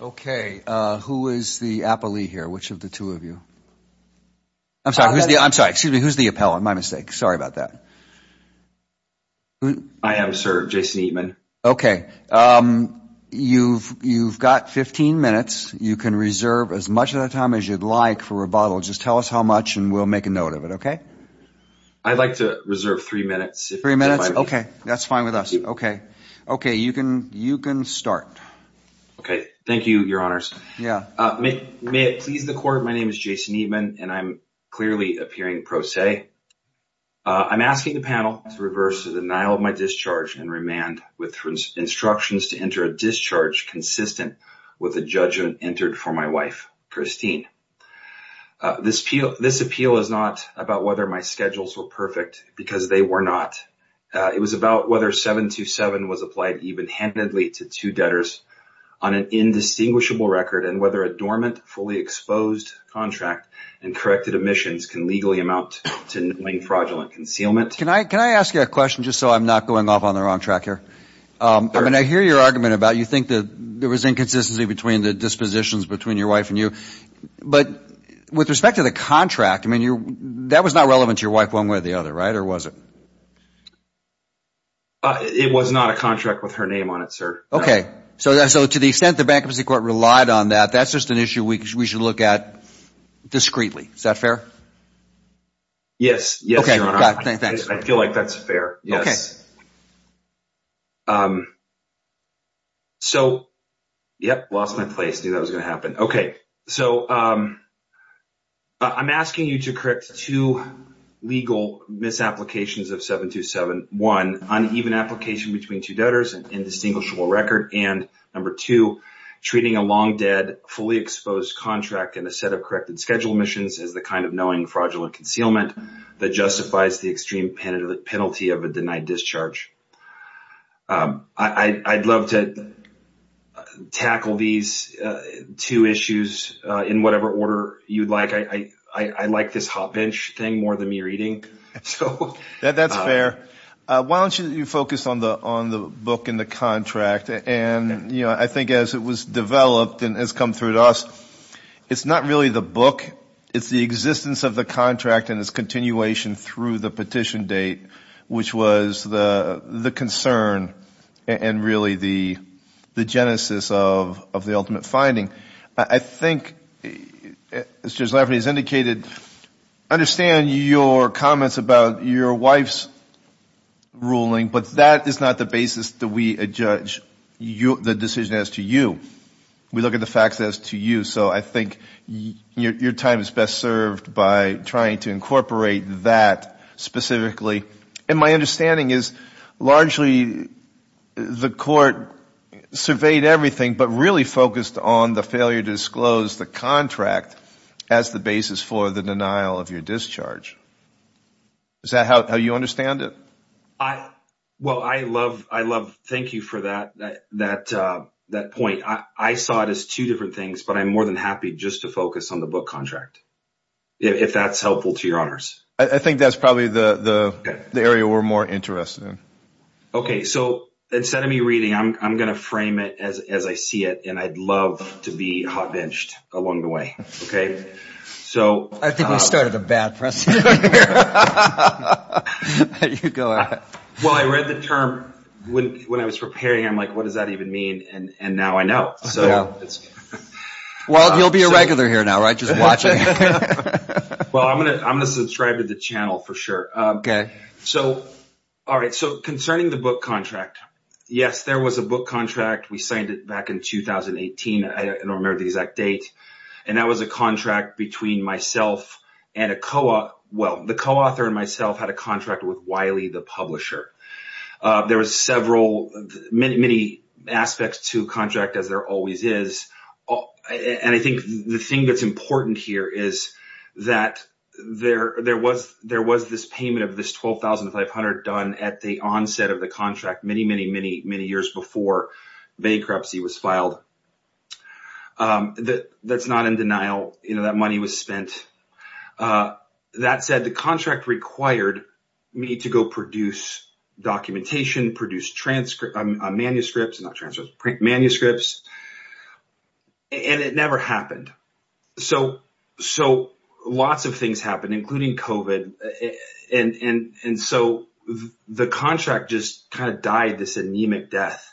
Okay, who is the appellee here? Which of the two of you? I'm sorry. I'm sorry. Excuse me. Who's the appellant? My mistake. Sorry about that. I am, sir. Jason Eatmon. Okay. You've got 15 minutes. You can reserve as much of that time as you'd like for rebuttal. Just tell us how much and we'll make a note of it, okay? I'd like to reserve three minutes. Okay. That's fine with us. Okay. Okay. You can start. Okay. Thank you, your honors. Yeah. May it please the court, my name is Jason Eatmon and I'm clearly appearing pro se. I'm asking the panel to reverse the denial of my discharge and remand with instructions to enter a discharge consistent with the judgment entered for my wife, Christine. This appeal is not about whether my schedules were perfect because they were not. It was about whether 727 was applied even handedly to two debtors on an indistinguishable record and whether a dormant, fully exposed contract and corrected omissions can legally amount to knowing fraudulent concealment. Can I ask you a question just so I'm not going off on the wrong track here? I mean, I hear your argument about you think that there was inconsistency between the dispositions between your wife and you, but with respect to the contract, I mean, that was not relevant to your wife one way or the other, right, or was it? It was not a contract with her name on it, sir. Okay. So to the extent the bankruptcy court relied on that, that's just an issue we should look at discreetly. Is that fair? Yes. Yes, Your Honor. Thanks. I feel like that's fair. Okay. So, yep. Lost my place. Knew that was going to happen. Okay. So I'm asking you to correct two legal misapplications of 727, one, uneven application between two debtors and indistinguishable record, and number two, treating a long dead, fully exposed contract and a set of corrected schedule missions as the kind of knowing fraudulent concealment that justifies the extreme penalty of a denied discharge. I'd love to tackle these two issues in whatever order you'd like. I like this hot bench thing more than me reading. That's fair. Why don't you focus on the book and the contract, and I think as it was developed and has come through to us, it's not really the book, it's the existence of the contract and its continuation through the petition date, which was the concern and really the genesis of the ultimate finding. I think, as Judge Lafferty has indicated, I understand your comments about your wife's ruling, but that is not the basis that we judge the decision as to you. We look at the facts as to you, so I think your time is best served by trying to incorporate that specifically. My understanding is largely the court surveyed everything but really focused on the failure to disclose the contract as the basis for the denial of your discharge. Is that how you understand it? Thank you for that point. I saw it as two different things, but I'm more than happy just to focus on the book contract if that's helpful to your honors. I think that's probably the area we're more interested in. Instead of me reading, I'm going to frame it as I see it, and I'd love to be hot benched along the way. I think we started a bad precedent here. I read the term when I was preparing, and I'm like, what does that even mean, and now I know. Well, you'll be a regular here now, right, just watching? Well, I'm going to subscribe to the channel for sure. Concerning the book contract, yes, there was a book contract. We signed it back in 2018. I don't remember the exact date. That was a contract between myself and a co-author. The co-author and myself had a contract with Wiley, the publisher. There were many aspects to a contract as there always is, and I think the thing that's important here is that there was this payment of this $12,500 done at the onset of the contract many, many, many, many years before bankruptcy was filed. That's not in denial. That money was spent. That said, the contract required me to go produce documentation, print manuscripts, and it never happened. So, lots of things happened, including COVID, and so the contract just kind of died this anemic death.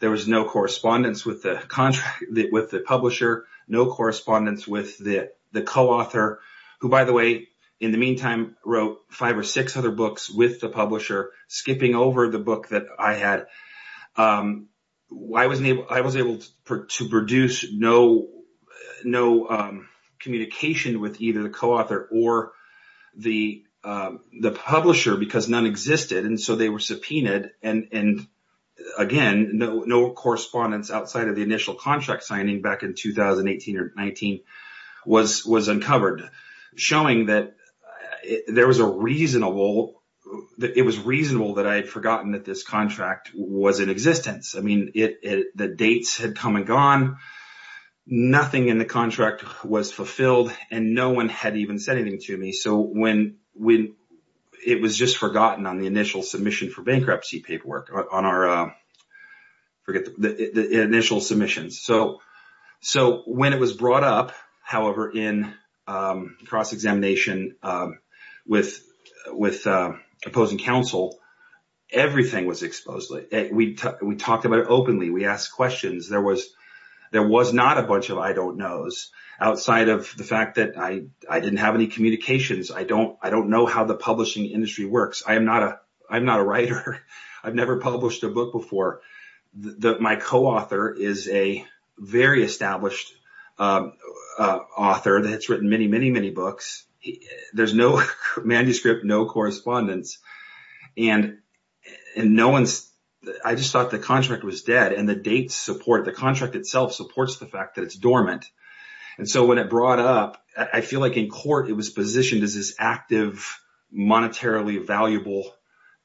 There was no correspondence with the publisher, no correspondence with the co-author, who by the way, in the meantime, wrote five or six other books with the publisher, skipping over the book that I had. I was able to produce no communication with either the co-author or the publisher because none existed, and so they were subpoenaed, and again, no correspondence outside of the initial contract signing back in 2018 or 2019 was uncovered, showing that it was reasonable that I had forgotten that this contract was in existence. I mean, the dates had come and gone. Nothing in the contract was fulfilled, and no one had even said anything to me, so it was just forgotten on the initial submission for bankruptcy paperwork, on our initial submissions. So, when it was brought up, however, in cross-examination with opposing counsel, everything was exposed. We talked about it openly. We asked questions. There was not a bunch of I don't knows outside of the fact that I didn't have any communications. I don't know how the publishing industry works. I'm not a writer. I've never published a book before. My co-author is a very established author that's written many, many, many books. There's no manuscript, no correspondence, and I just thought the contract was dead, and the dates support it. The contract itself supports the fact that it's dormant, and so when it brought up, I feel like in court, it was positioned as this active, monetarily valuable.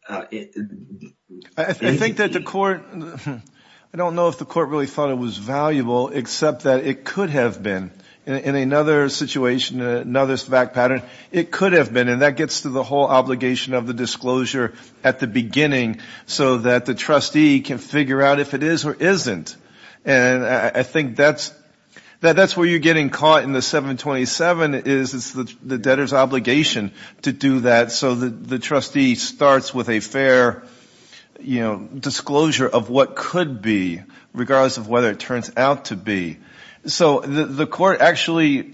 I think that the court, I don't know if the court really thought it was valuable, except that it could have been. In another situation, another fact pattern, it could have been, and that gets to the whole obligation of the disclosure at the beginning, so that the trustee can figure out if it is or isn't. I think that's where you're getting caught in the 727, is the debtor's obligation to do that, so that the trustee starts with a fair disclosure of what could be, regardless of whether it turns out to be. The court actually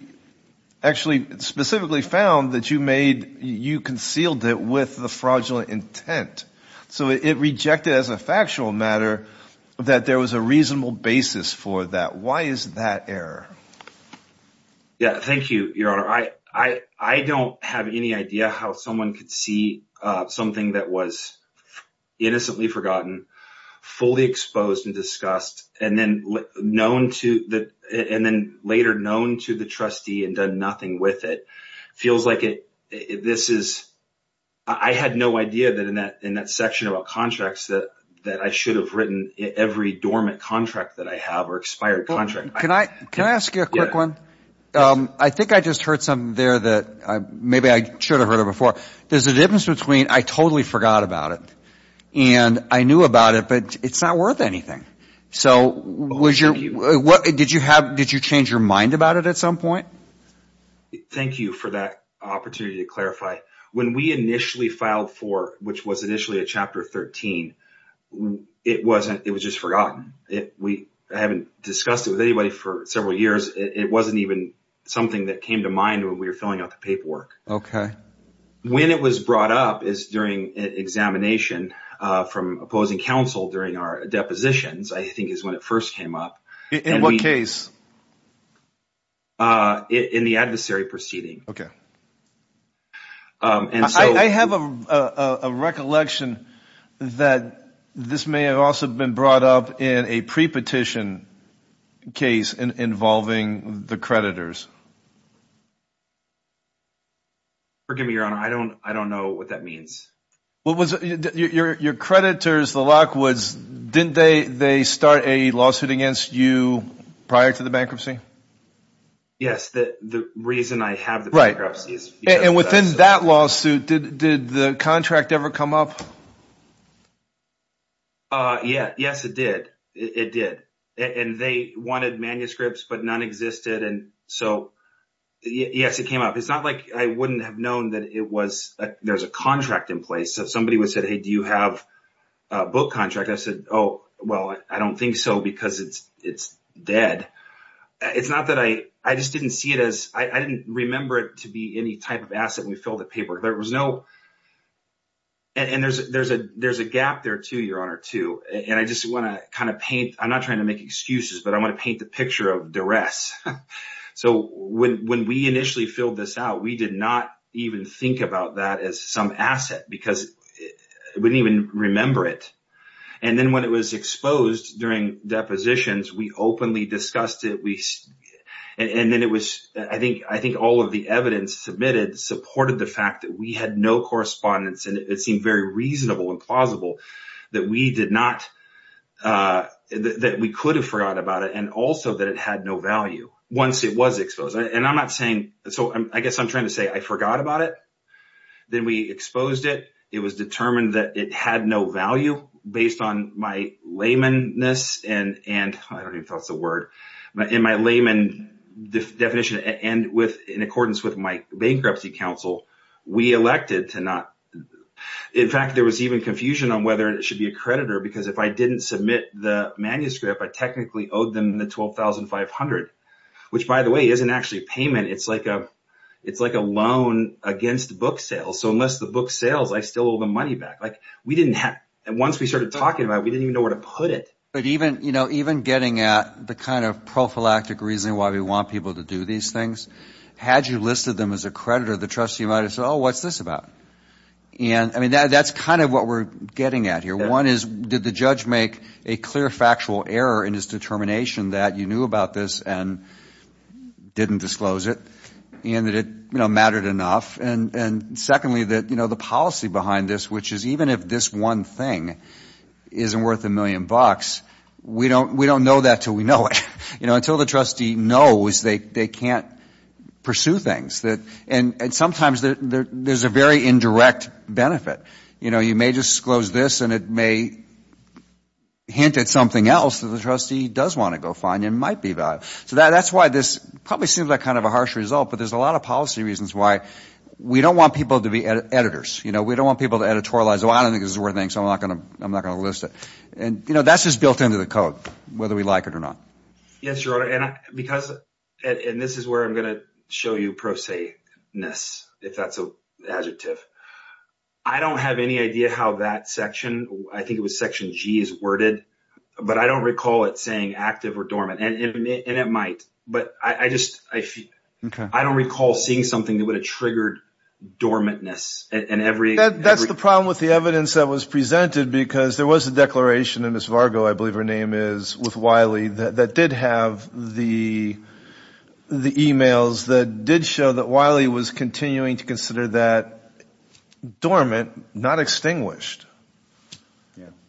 specifically found that you concealed it with the fraudulent intent, so it rejected as a factual matter that there was a reasonable basis for that. Why is that error? Thank you, Your Honor. I don't have any idea how someone could see something that was innocently forgotten, fully exposed and discussed, and then later known to the trustee and done nothing with it. It feels like I had no idea that in that section about contracts that I should have written every dormant contract that I have or expired contract. Can I ask you a quick one? I think I just heard something there that maybe I should have heard it before. There's a difference between, I totally forgot about it, and I knew about it, but it's not worth anything. Did you change your mind about it at some point? Thank you for that opportunity to clarify. When we initially filed for, which was initially a Chapter 13, it was just forgotten. I haven't discussed it with anybody for several years. It wasn't even something that came to mind when we were filling out the paperwork. Okay. When it was brought up is during examination from opposing counsel during our depositions, I think is when it first came up. In what case? In the adversary proceeding. Okay. I have a recollection that this may have also been brought up in a pre-petition case involving the creditors. Forgive me, Your Honor. I don't know what that means. Your creditors, the Lockwoods, didn't they start a lawsuit against you prior to the bankruptcy? Yes. The reason I have the bankruptcy is because of that. Within that lawsuit, did the contract ever come up? Yes, it did. They wanted manuscripts, but none existed. Yes, it came up. It's not like I wouldn't have known that there's a contract in place. Somebody would say, hey, do you have a book contract? I said, oh, well, I don't think so because it's dead. I didn't remember it to be any type of asset when we filled the paperwork. There's a gap there too, Your Honor. I'm not trying to make excuses, but I want to paint the picture of duress. When we initially filled this out, we did not even think about that as some asset because we didn't even remember it. Then when it was exposed during depositions, we openly discussed it. I think all of the evidence submitted supported the fact that we had no correspondence and it seemed very reasonable and plausible that we could have forgot about it and also that it had no value once it was exposed. I guess I'm trying to say I forgot about it. Then we exposed it. It was determined that it had no value based on my layman definition and in accordance with my bankruptcy counsel. In fact, there was even confusion on whether it should be a creditor because if I didn't submit the manuscript, I technically owed them the $12,500 which, by the way, isn't actually payment. It's like a loan against book sales. Unless the book sales, I still owe the money back. Once we started talking about it, we didn't even know where to put it. Even getting at the kind of prophylactic reason why we want people to do these things, had you listed them as a creditor, the trustee might have said, oh, what's this about? That's kind of what we're getting at here. One is, did the judge make a clear factual error in his determination that you knew about this and didn't disclose it and that it mattered enough? Secondly, the policy behind this, which is even if this one thing isn't worth a million bucks, we don't know that until we know it. Until the trustee knows, they can't pursue things. Sometimes there's a very indirect benefit. You may disclose this and it may hint at something else that the trustee does want to go find and might be about. That's why this probably seems like kind of a harsh result, but there's a lot of policy reasons why we don't want people to be editors. We don't want people to editorialize, oh, I don't think this is worth anything, so I'm not going to list it. That's just built into the code, whether we like it or not. Yes, Your Honor. This is where I'm going to show you prosaic-ness, if that's an adjective. I don't have any idea how that section, I think it was section G, is worded, but I don't recall it saying active or dormant. It might. I don't recall seeing something that would have triggered dormant-ness. That's the problem with the evidence that was presented, because there was a declaration in Ms. Vargo, I believe her name is, with Wiley, that did have the emails that did show that Wiley was continuing to consider that dormant, not extinguished.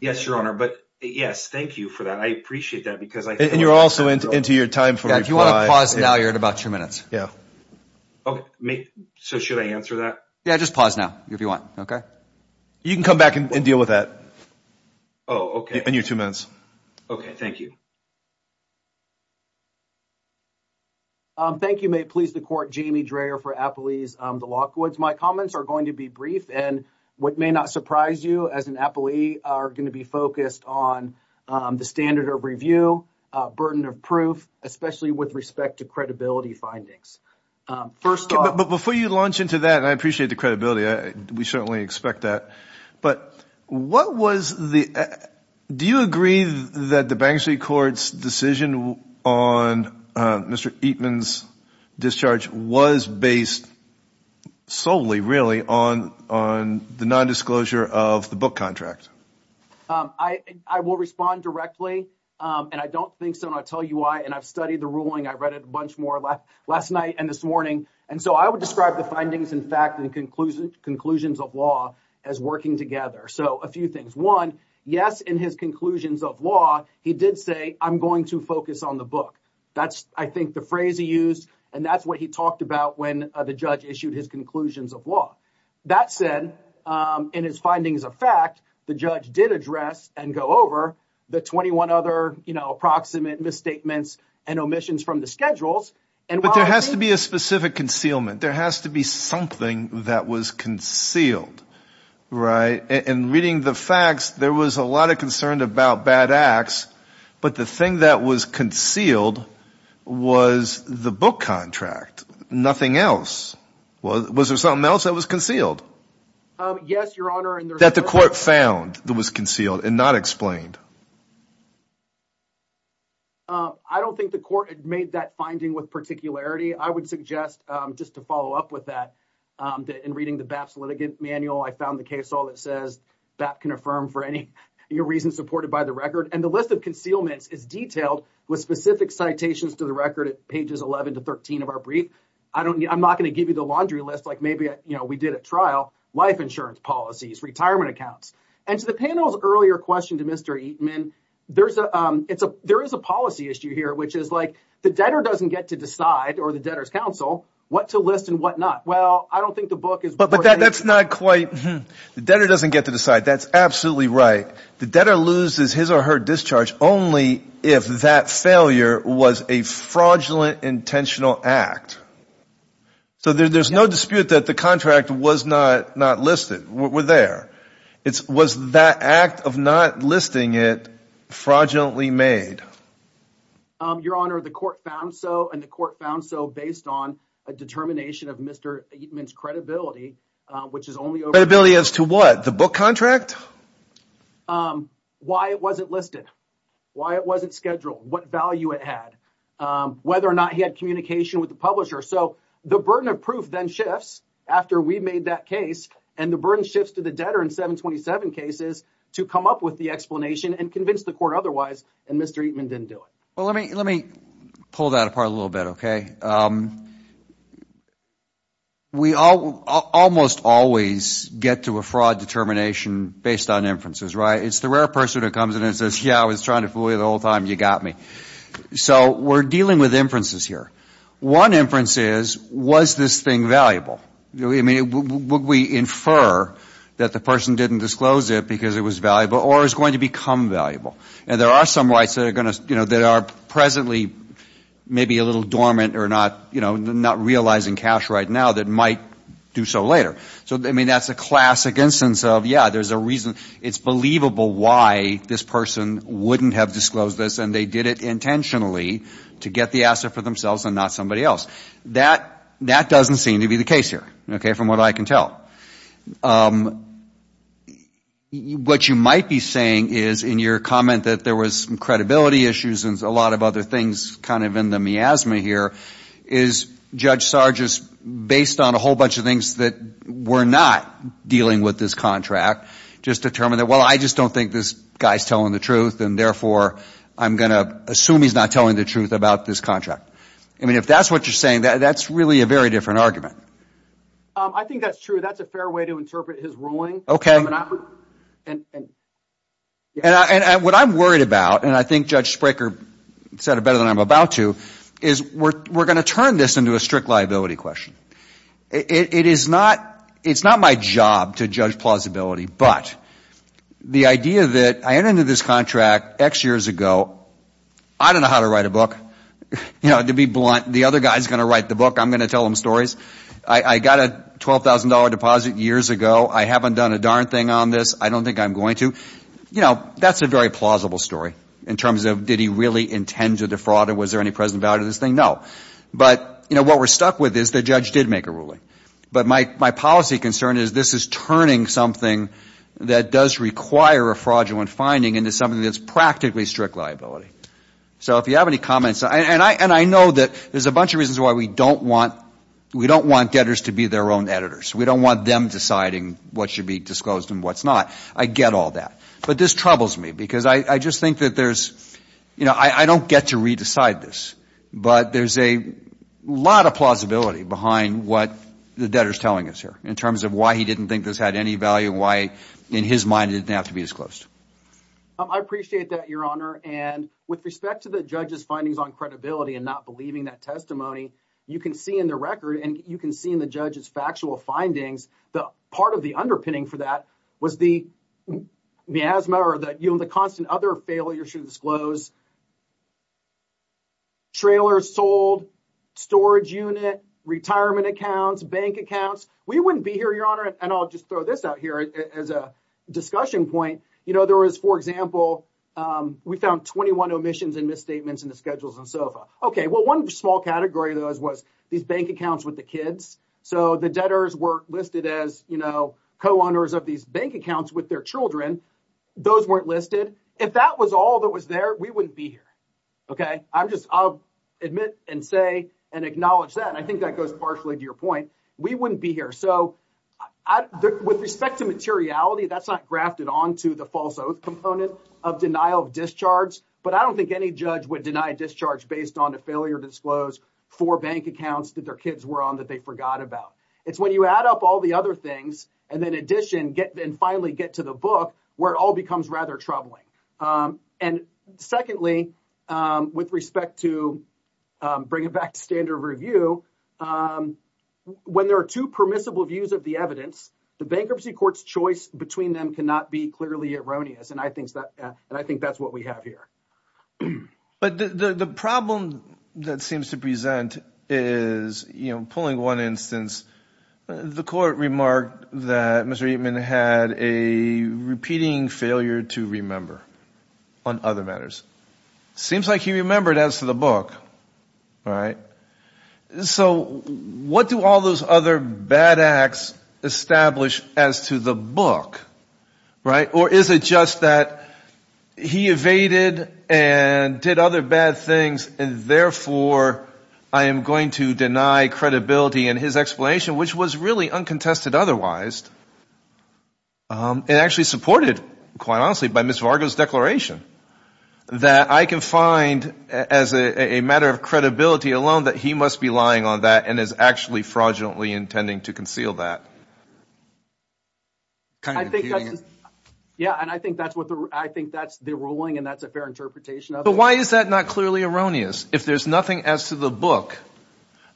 Yes, Your Honor, but yes, thank you for that. I appreciate that. You're also into your time for reply. If you want to pause now, you're at about two minutes. Should I answer that? Yes, just pause now, if you want. You can come back and deal with that in your two minutes. Okay, thank you. Thank you. May it please the Court. Jamie Dreher for Applebee's, the Lockwoods. My comments are going to be brief, and what may not surprise you, as an Applebee, are going to be focused on the standard of review, burden of proof, especially with respect to credibility findings. Before you launch into that, and I appreciate the credibility, we certainly expect that, do you agree that the Bank Street Court's decision on Mr. Eatman's discharge was based solely, really, on the nondisclosure of the book contract? I will respond directly, and I don't think so, and I'll tell you why. And I've studied the ruling. I read it a bunch more last night and this morning. And so, I would describe the findings, in fact, and conclusions of law as working together. So, a few things. One, yes, in his conclusions of law, he did say, I'm going to focus on the book. That's, I think, the phrase he used, and that's what he talked about when the judge issued his conclusions of law. That said, in his findings of fact, the judge did address and go over the 21 other approximate misstatements and omissions from the schedules. But there has to be a specific concealment. There has to be something that was concealed, right? And reading the facts, there was a lot of concern about bad acts, but the thing that was concealed was the book contract, nothing else. Well, was there something else that was concealed? Yes, Your Honor. That the court found that was concealed and not explained? I don't think the court had made that finding with particularity. I would suggest, just to follow up with that, that in reading the BAPS litigant manual, I found the case all that says BAPS can affirm for any reason supported by the record. And the list of concealments is detailed with specific citations to the record at pages 11 to 13 of our brief. I'm not going to give you the laundry list like maybe we did at trial, life insurance policies, retirement accounts. And to the panel's earlier question to Mr. Eatman, there is a policy issue here, which is like the debtor doesn't get to decide or the debtor's counsel what to list and what not. Well, I don't think the book is worth it. But that's not quite – the debtor doesn't get to decide. That's absolutely right. The debtor loses his or her discharge only if that failure was a fraudulent intentional So there's no dispute that the contract was not listed. We're there. Was that act of not listing it fraudulently made? Your Honor, the court found so, and the court found so based on a determination of Mr. Eatman's credibility, which is only over – Credibility as to what? The book contract? Why it wasn't listed. Why it wasn't scheduled. What value it had. Whether or not he had communication with the publisher. So the burden of proof then shifts after we made that case, and the burden shifts to the debtor in 727 cases to come up with the explanation and convince the court otherwise, and Mr. Eatman didn't do it. Well, let me pull that apart a little bit, OK? We almost always get to a fraud determination based on inferences, right? It's the rare person who comes in and says, yeah, I was trying to fool you the whole time. You got me. So we're dealing with inferences here. One inference is, was this thing valuable? I mean, would we infer that the person didn't disclose it because it was valuable or is going to become valuable? And there are some rights that are going to, you know, that are presently maybe a little dormant or not, you know, not realizing cash right now that might do so later. So, I mean, that's a classic instance of, yeah, there's a reason. It's believable why this person wouldn't have disclosed this and they did it intentionally to get the asset for themselves and not somebody else. That doesn't seem to be the case here, OK, from what I can tell. What you might be saying is in your comment that there was some credibility issues and a lot of other things kind of in the miasma here is Judge Sargis, based on a whole bunch of things that we're not dealing with this contract, just determined that, well, I just don't think this guy's telling the truth and therefore I'm going to assume he's not telling the truth about this contract. I mean, if that's what you're saying, that's really a very different argument. I think that's true. That's a fair way to interpret his ruling. OK. And what I'm worried about, and I think Judge Spraker said it better than I'm about to, is we're going to turn this into a strict liability question. It is not my job to judge plausibility, but the idea that I entered into this contract X years ago, I don't know how to write a book. You know, to be blunt, the other guy's going to write the book. I'm going to tell him stories. I got a $12,000 deposit years ago. I haven't done a darn thing on this. I don't think I'm going to. You know, that's a very plausible story in terms of did he really intend to defraud or was there any present value to this thing? No. But, you know, what we're stuck with is the judge did make a ruling. But my policy concern is this is turning something that does require a fraudulent finding into something that's practically strict liability. So if you have any comments, and I know that there's a bunch of reasons why we don't want debtors to be their own editors. We don't want them deciding what should be disclosed and what's not. I get all that. But this troubles me because I just think that there's, you know, I don't get to re-decide this. But there's a lot of plausibility behind what the debtor's telling us here in terms of why he didn't think this had any value and why, in his mind, it didn't have to be disclosed. I appreciate that, Your Honor. And with respect to the judge's findings on credibility and not believing that testimony, you can see in the record and you can see in the judge's factual findings that part of the underpinning for that was the miasma or the constant other failure to disclose. Trailers sold, storage unit, retirement accounts, bank accounts. We wouldn't be here, Your Honor. And I'll just throw this out here as a discussion point. For example, we found 21 omissions and misstatements in the schedules and SOFA. Okay. Well, one small category of those was these bank accounts with the kids. So the debtors were listed as, you know, co-owners of these bank accounts with their children. Those weren't listed. If that was all that was there, we wouldn't be here. Okay. I'll admit and say and acknowledge that. And I think that goes partially to your point. We wouldn't be here. So with respect to materiality, that's not grafted onto the false oath component of denial of discharge. But I don't think any judge would deny discharge based on a failure to disclose four bank accounts that their kids were on that they forgot about. It's when you add up all the other things and then in addition get and finally get to the book where it all becomes rather troubling. And secondly, with respect to bringing back standard review, when there are two permissible views of the evidence, the bankruptcy court's choice between them cannot be clearly erroneous. And I think that's what we have here. But the problem that seems to present is, you know, pulling one instance, the court remarked that Mr. Eatman had a repeating failure to remember on other matters. Seems like he remembered as to the book, right? So what do all those other bad acts establish as to the book, right? Or is it just that he evaded and did other bad things, and therefore I am going to deny credibility in his explanation, which was really uncontested otherwise. It actually supported, quite honestly, by Ms. Vargo's declaration, that I can find as a matter of credibility alone that he must be lying on that and is actually fraudulently intending to conceal that. I think that's the ruling and that's a fair interpretation of it. But why is that not clearly erroneous if there's nothing as to the book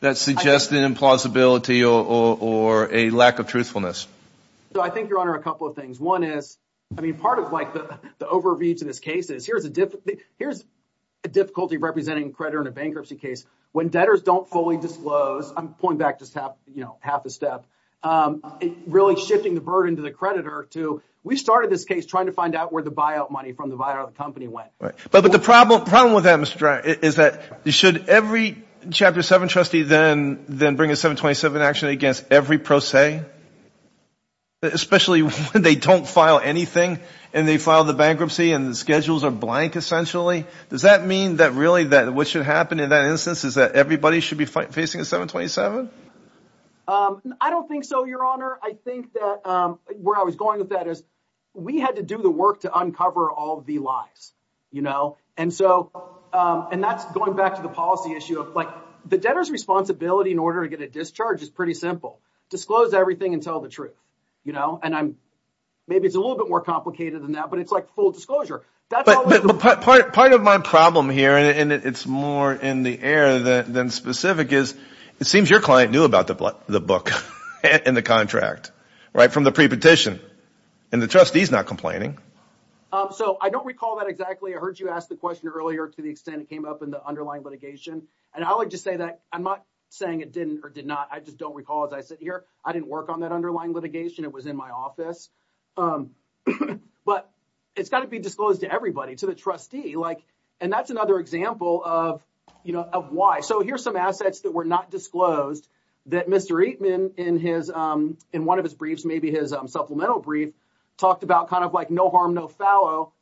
that suggests an implausibility or a lack of truthfulness? So I think, Your Honor, a couple of things. One is, I mean, part of, like, the overview to this case is, here's a difficulty representing a creditor in a bankruptcy case. When debtors don't fully disclose, I'm pulling back just half a step, really shifting the burden to the creditor to, we started this case trying to find out where the buyout money from the buyout company went. But the problem with that, Mr. Dryer, is that should every Chapter 7 trustee then bring a 727 action against every pro se, especially when they don't file anything and they file the bankruptcy and the schedules are blank, essentially? Does that mean that really what should happen in that instance is that everybody should be facing a 727? I don't think so, Your Honor. I think that where I was going with that is we had to do the work to uncover all the lies, you know? And that's going back to the policy issue of, like, the debtor's responsibility in order to get a discharge is pretty simple. Disclose everything and tell the truth, you know? And maybe it's a little bit more complicated than that, but it's like full disclosure. But part of my problem here, and it's more in the air than specific, is it seems your client knew about the book and the contract, right, from the pre-petition, and the trustee's not complaining. So I don't recall that exactly. I heard you ask the question earlier to the extent it came up in the underlying litigation. And I would just say that I'm not saying it didn't or did not. I didn't work on that underlying litigation. It was in my office. But it's got to be disclosed to everybody, to the trustee. And that's another example of why. So here's some assets that were not disclosed that Mr. Eatman, in one of his briefs, maybe his supplemental brief, talked about kind of like no harm, no foul,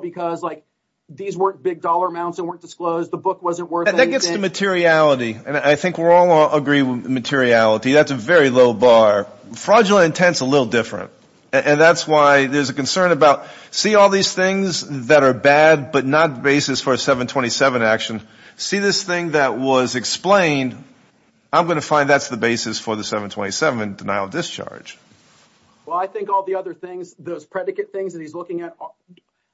because these weren't big dollar amounts that weren't disclosed. The book wasn't worth anything. Just the materiality. And I think we're all going to agree with materiality. That's a very low bar. Fraudulent intent's a little different. And that's why there's a concern about see all these things that are bad but not the basis for a 727 action. See this thing that was explained. I'm going to find that's the basis for the 727 denial of discharge. Well, I think all the other things, those predicate things that he's looking at,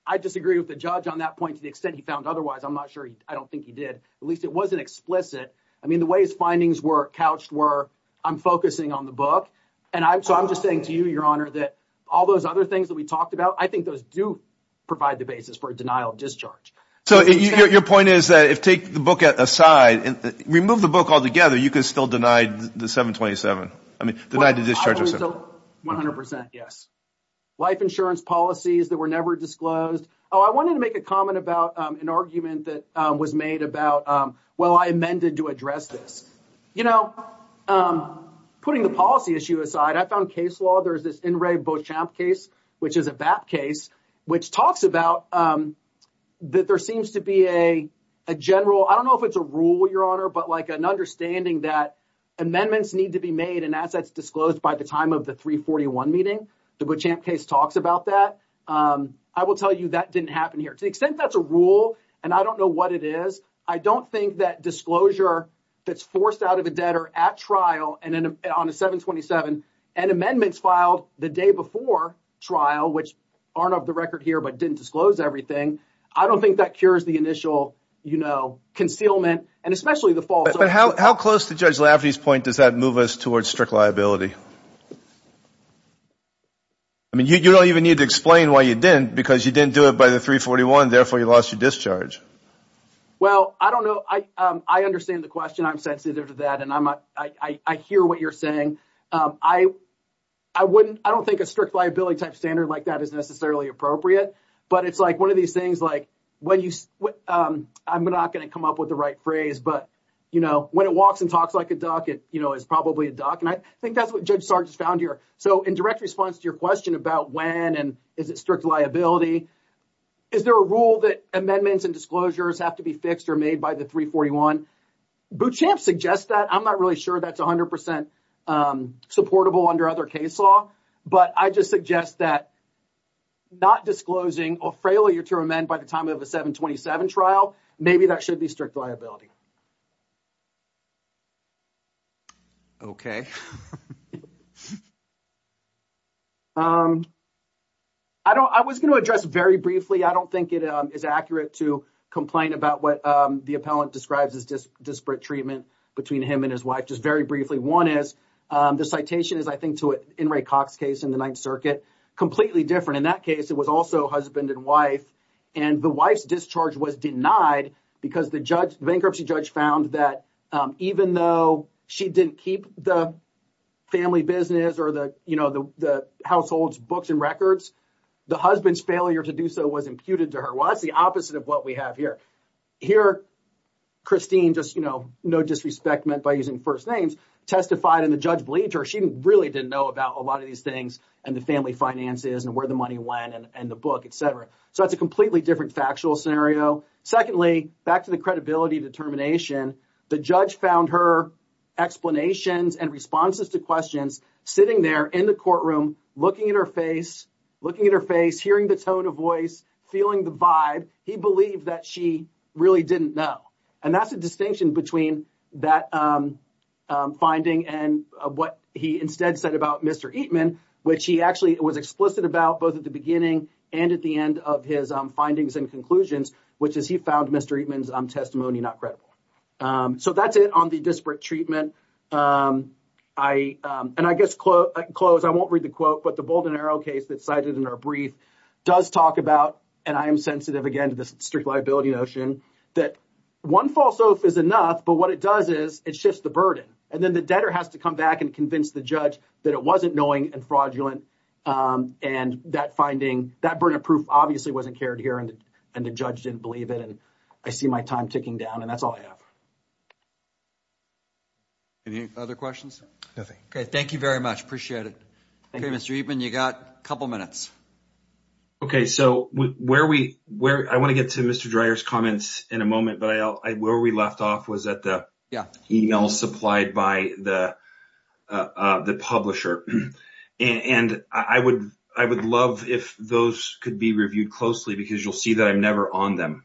I disagree with the judge on that point to the extent he found otherwise. I'm not sure. I don't think he did. It wasn't explicit. I mean, the way his findings were couched were, I'm focusing on the book. So I'm just saying to you, Your Honor, that all those other things that we talked about, I think those do provide the basis for a denial of discharge. So your point is that if take the book aside, remove the book altogether, you can still deny the 727. I mean, deny the discharge of 727. 100 percent, yes. Life insurance policies that were never disclosed. Oh, I wanted to make a comment about an argument that was made about, why amended to address this? You know, putting the policy issue aside, I found case law. There's this In re Beauchamp case, which is a BAP case, which talks about that there seems to be a general, I don't know if it's a rule, Your Honor, but like an understanding that amendments need to be made and assets disclosed by the time of the 341 meeting. The Beauchamp case talks about that. I will tell you that didn't happen here to the extent that's a rule. And I don't know what it is. I don't think that disclosure that's forced out of a debtor at trial on a 727 and amendments filed the day before trial, which aren't of the record here, but didn't disclose everything. I don't think that cures the initial, you know, concealment and especially the false. But how close to Judge Lafferty's point does that move us towards strict liability? I mean, you don't even need to explain why you didn't because you didn't do it by the 341. Therefore, you lost your discharge. So I don't know. I understand the question. I'm sensitive to that, and I hear what you're saying. I wouldn't, I don't think a strict liability type standard like that is necessarily appropriate. But it's like one of these things like when you, I'm not going to come up with the right phrase, but, you know, when it walks and talks like a duck, it, you know, is probably a duck. And I think that's what Judge Sargis found here. So in direct response to your question about when and is it strict liability? Is there a rule that amendments and disclosures have to be fixed or made by the 341? Bootstrap suggests that. I'm not really sure that's 100 percent supportable under other case law. But I just suggest that not disclosing or failure to amend by the time of a 727 trial, maybe that should be strict liability. OK. I don't, I was going to address very briefly. I don't think it is accurate to complain about what the appellant describes as just disparate treatment between him and his wife. Just very briefly, one is the citation is, I think to it in Ray Cox case in the Ninth Circuit, completely different. In that case, it was also husband and wife. And the wife's discharge was denied because the judge, bankruptcy judge found that even though she didn't keep the family business or the, you know, the household's books and records, the husband's failure to do so was imputed to her. Well, that's the opposite of what we have here. Christine, just, you know, no disrespect meant by using first names, testified and the judge believed her. She really didn't know about a lot of these things and the family finances and where the money went and the book, et cetera. So that's a completely different factual scenario. Secondly, back to the credibility determination, the judge found her explanations and responses to questions sitting there in the courtroom, looking at her face, looking at her face, hearing the tone of voice, feeling the vibe. He believed that she really didn't know. And that's the distinction between that finding and what he instead said about Mr. Eatman, which he actually was explicit about both at the beginning and at the end of his findings and conclusions, which is he found Mr. Eatman's testimony not credible. So that's it on the disparate treatment. I, and I guess close, I won't read the quote, but the Bold and Arrow case that's cited in our brief does talk about, and I am sensitive again to this strict liability notion, that one false oath is enough, but what it does is it shifts the burden. And then the debtor has to come back and convince the judge that it wasn't knowing and fraudulent and that finding, that burden of proof obviously wasn't carried here and the judge didn't believe it. And I see my time ticking down and that's all I have. Any other questions? Nothing. Okay, thank you very much. Appreciate it. Okay, Mr. Eatman, you got a couple minutes. Okay, so where we, I want to get to Mr. Dreyer's comments in a moment, but where we left off was at the email supplied by the publisher. And I would love if those could be reviewed closely because you'll see that I'm never on them.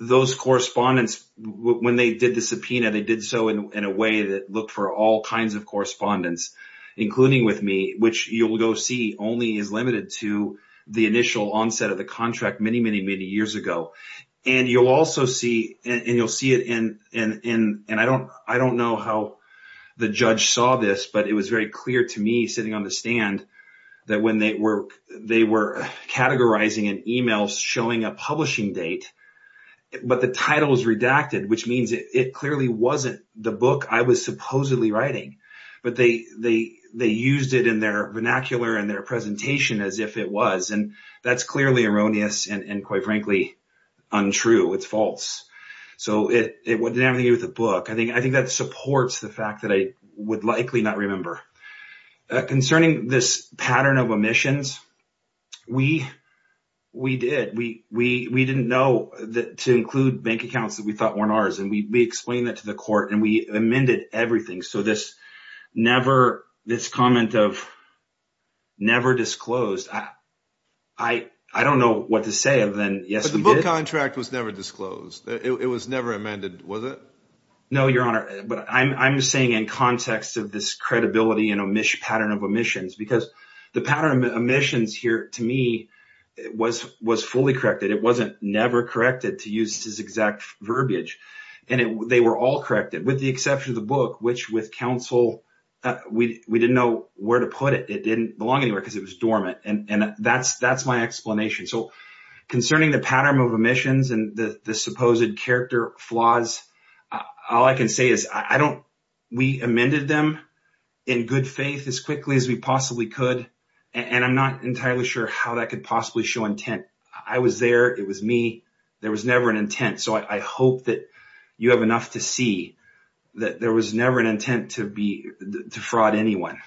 Those correspondence, when they did the subpoena, they did so in a way that looked for all kinds of correspondence, including with me, which you'll go see only is limited to the initial onset of the contract many, many, many years ago. And you'll also see, and you'll see it in, and I don't know how the judge saw this, but it was very clear to me sitting on the stand that when they were categorizing an email showing a publishing date, but the title was redacted, which means it clearly wasn't the book I was supposedly writing, but they used it in their vernacular and their presentation as if it was. And that's clearly erroneous and quite frankly, untrue. It's false. So it didn't have anything to do with the book. I think that supports the fact that I would likely not remember. Concerning this pattern of omissions, we did. We didn't know that to include bank accounts that we thought weren't ours. And we explained that to the court and we amended everything. So this comment of never disclosed, I don't know what to say other than yes, we did. But the book contract was never disclosed. It was never amended, was it? No, Your Honor. But I'm saying in context of this credibility and pattern of omissions, because the pattern of omissions here, to me, was fully corrected. It wasn't never corrected to use this exact verbiage. And they were all corrected with the exception of the book, which with counsel, we didn't know where to put it. And that's my explanation. So concerning the pattern of omissions and the supposed character flaws, all I can say is, we amended them in good faith as quickly as we possibly could. And I'm not entirely sure how that could possibly show intent. I was there. It was me. There was never an intent. So I hope that you have enough to see that there was never an intent to fraud anyone.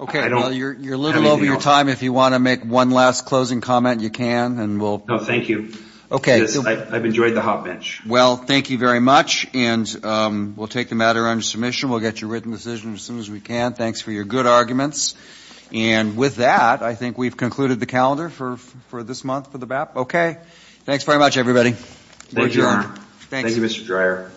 Okay. Well, you're a little over your time. If you want to make one last closing comment, you can. No, thank you. I've enjoyed the hot bench. Well, thank you very much. And we'll take the matter under submission. We'll get your written decision as soon as we can. Thanks for your good arguments. And with that, I think we've concluded the calendar for this month for the BAP. Okay. Thanks very much, everybody. Thank you, Your Honor. Thank you, Mr. Dreyer. Court is adjourned.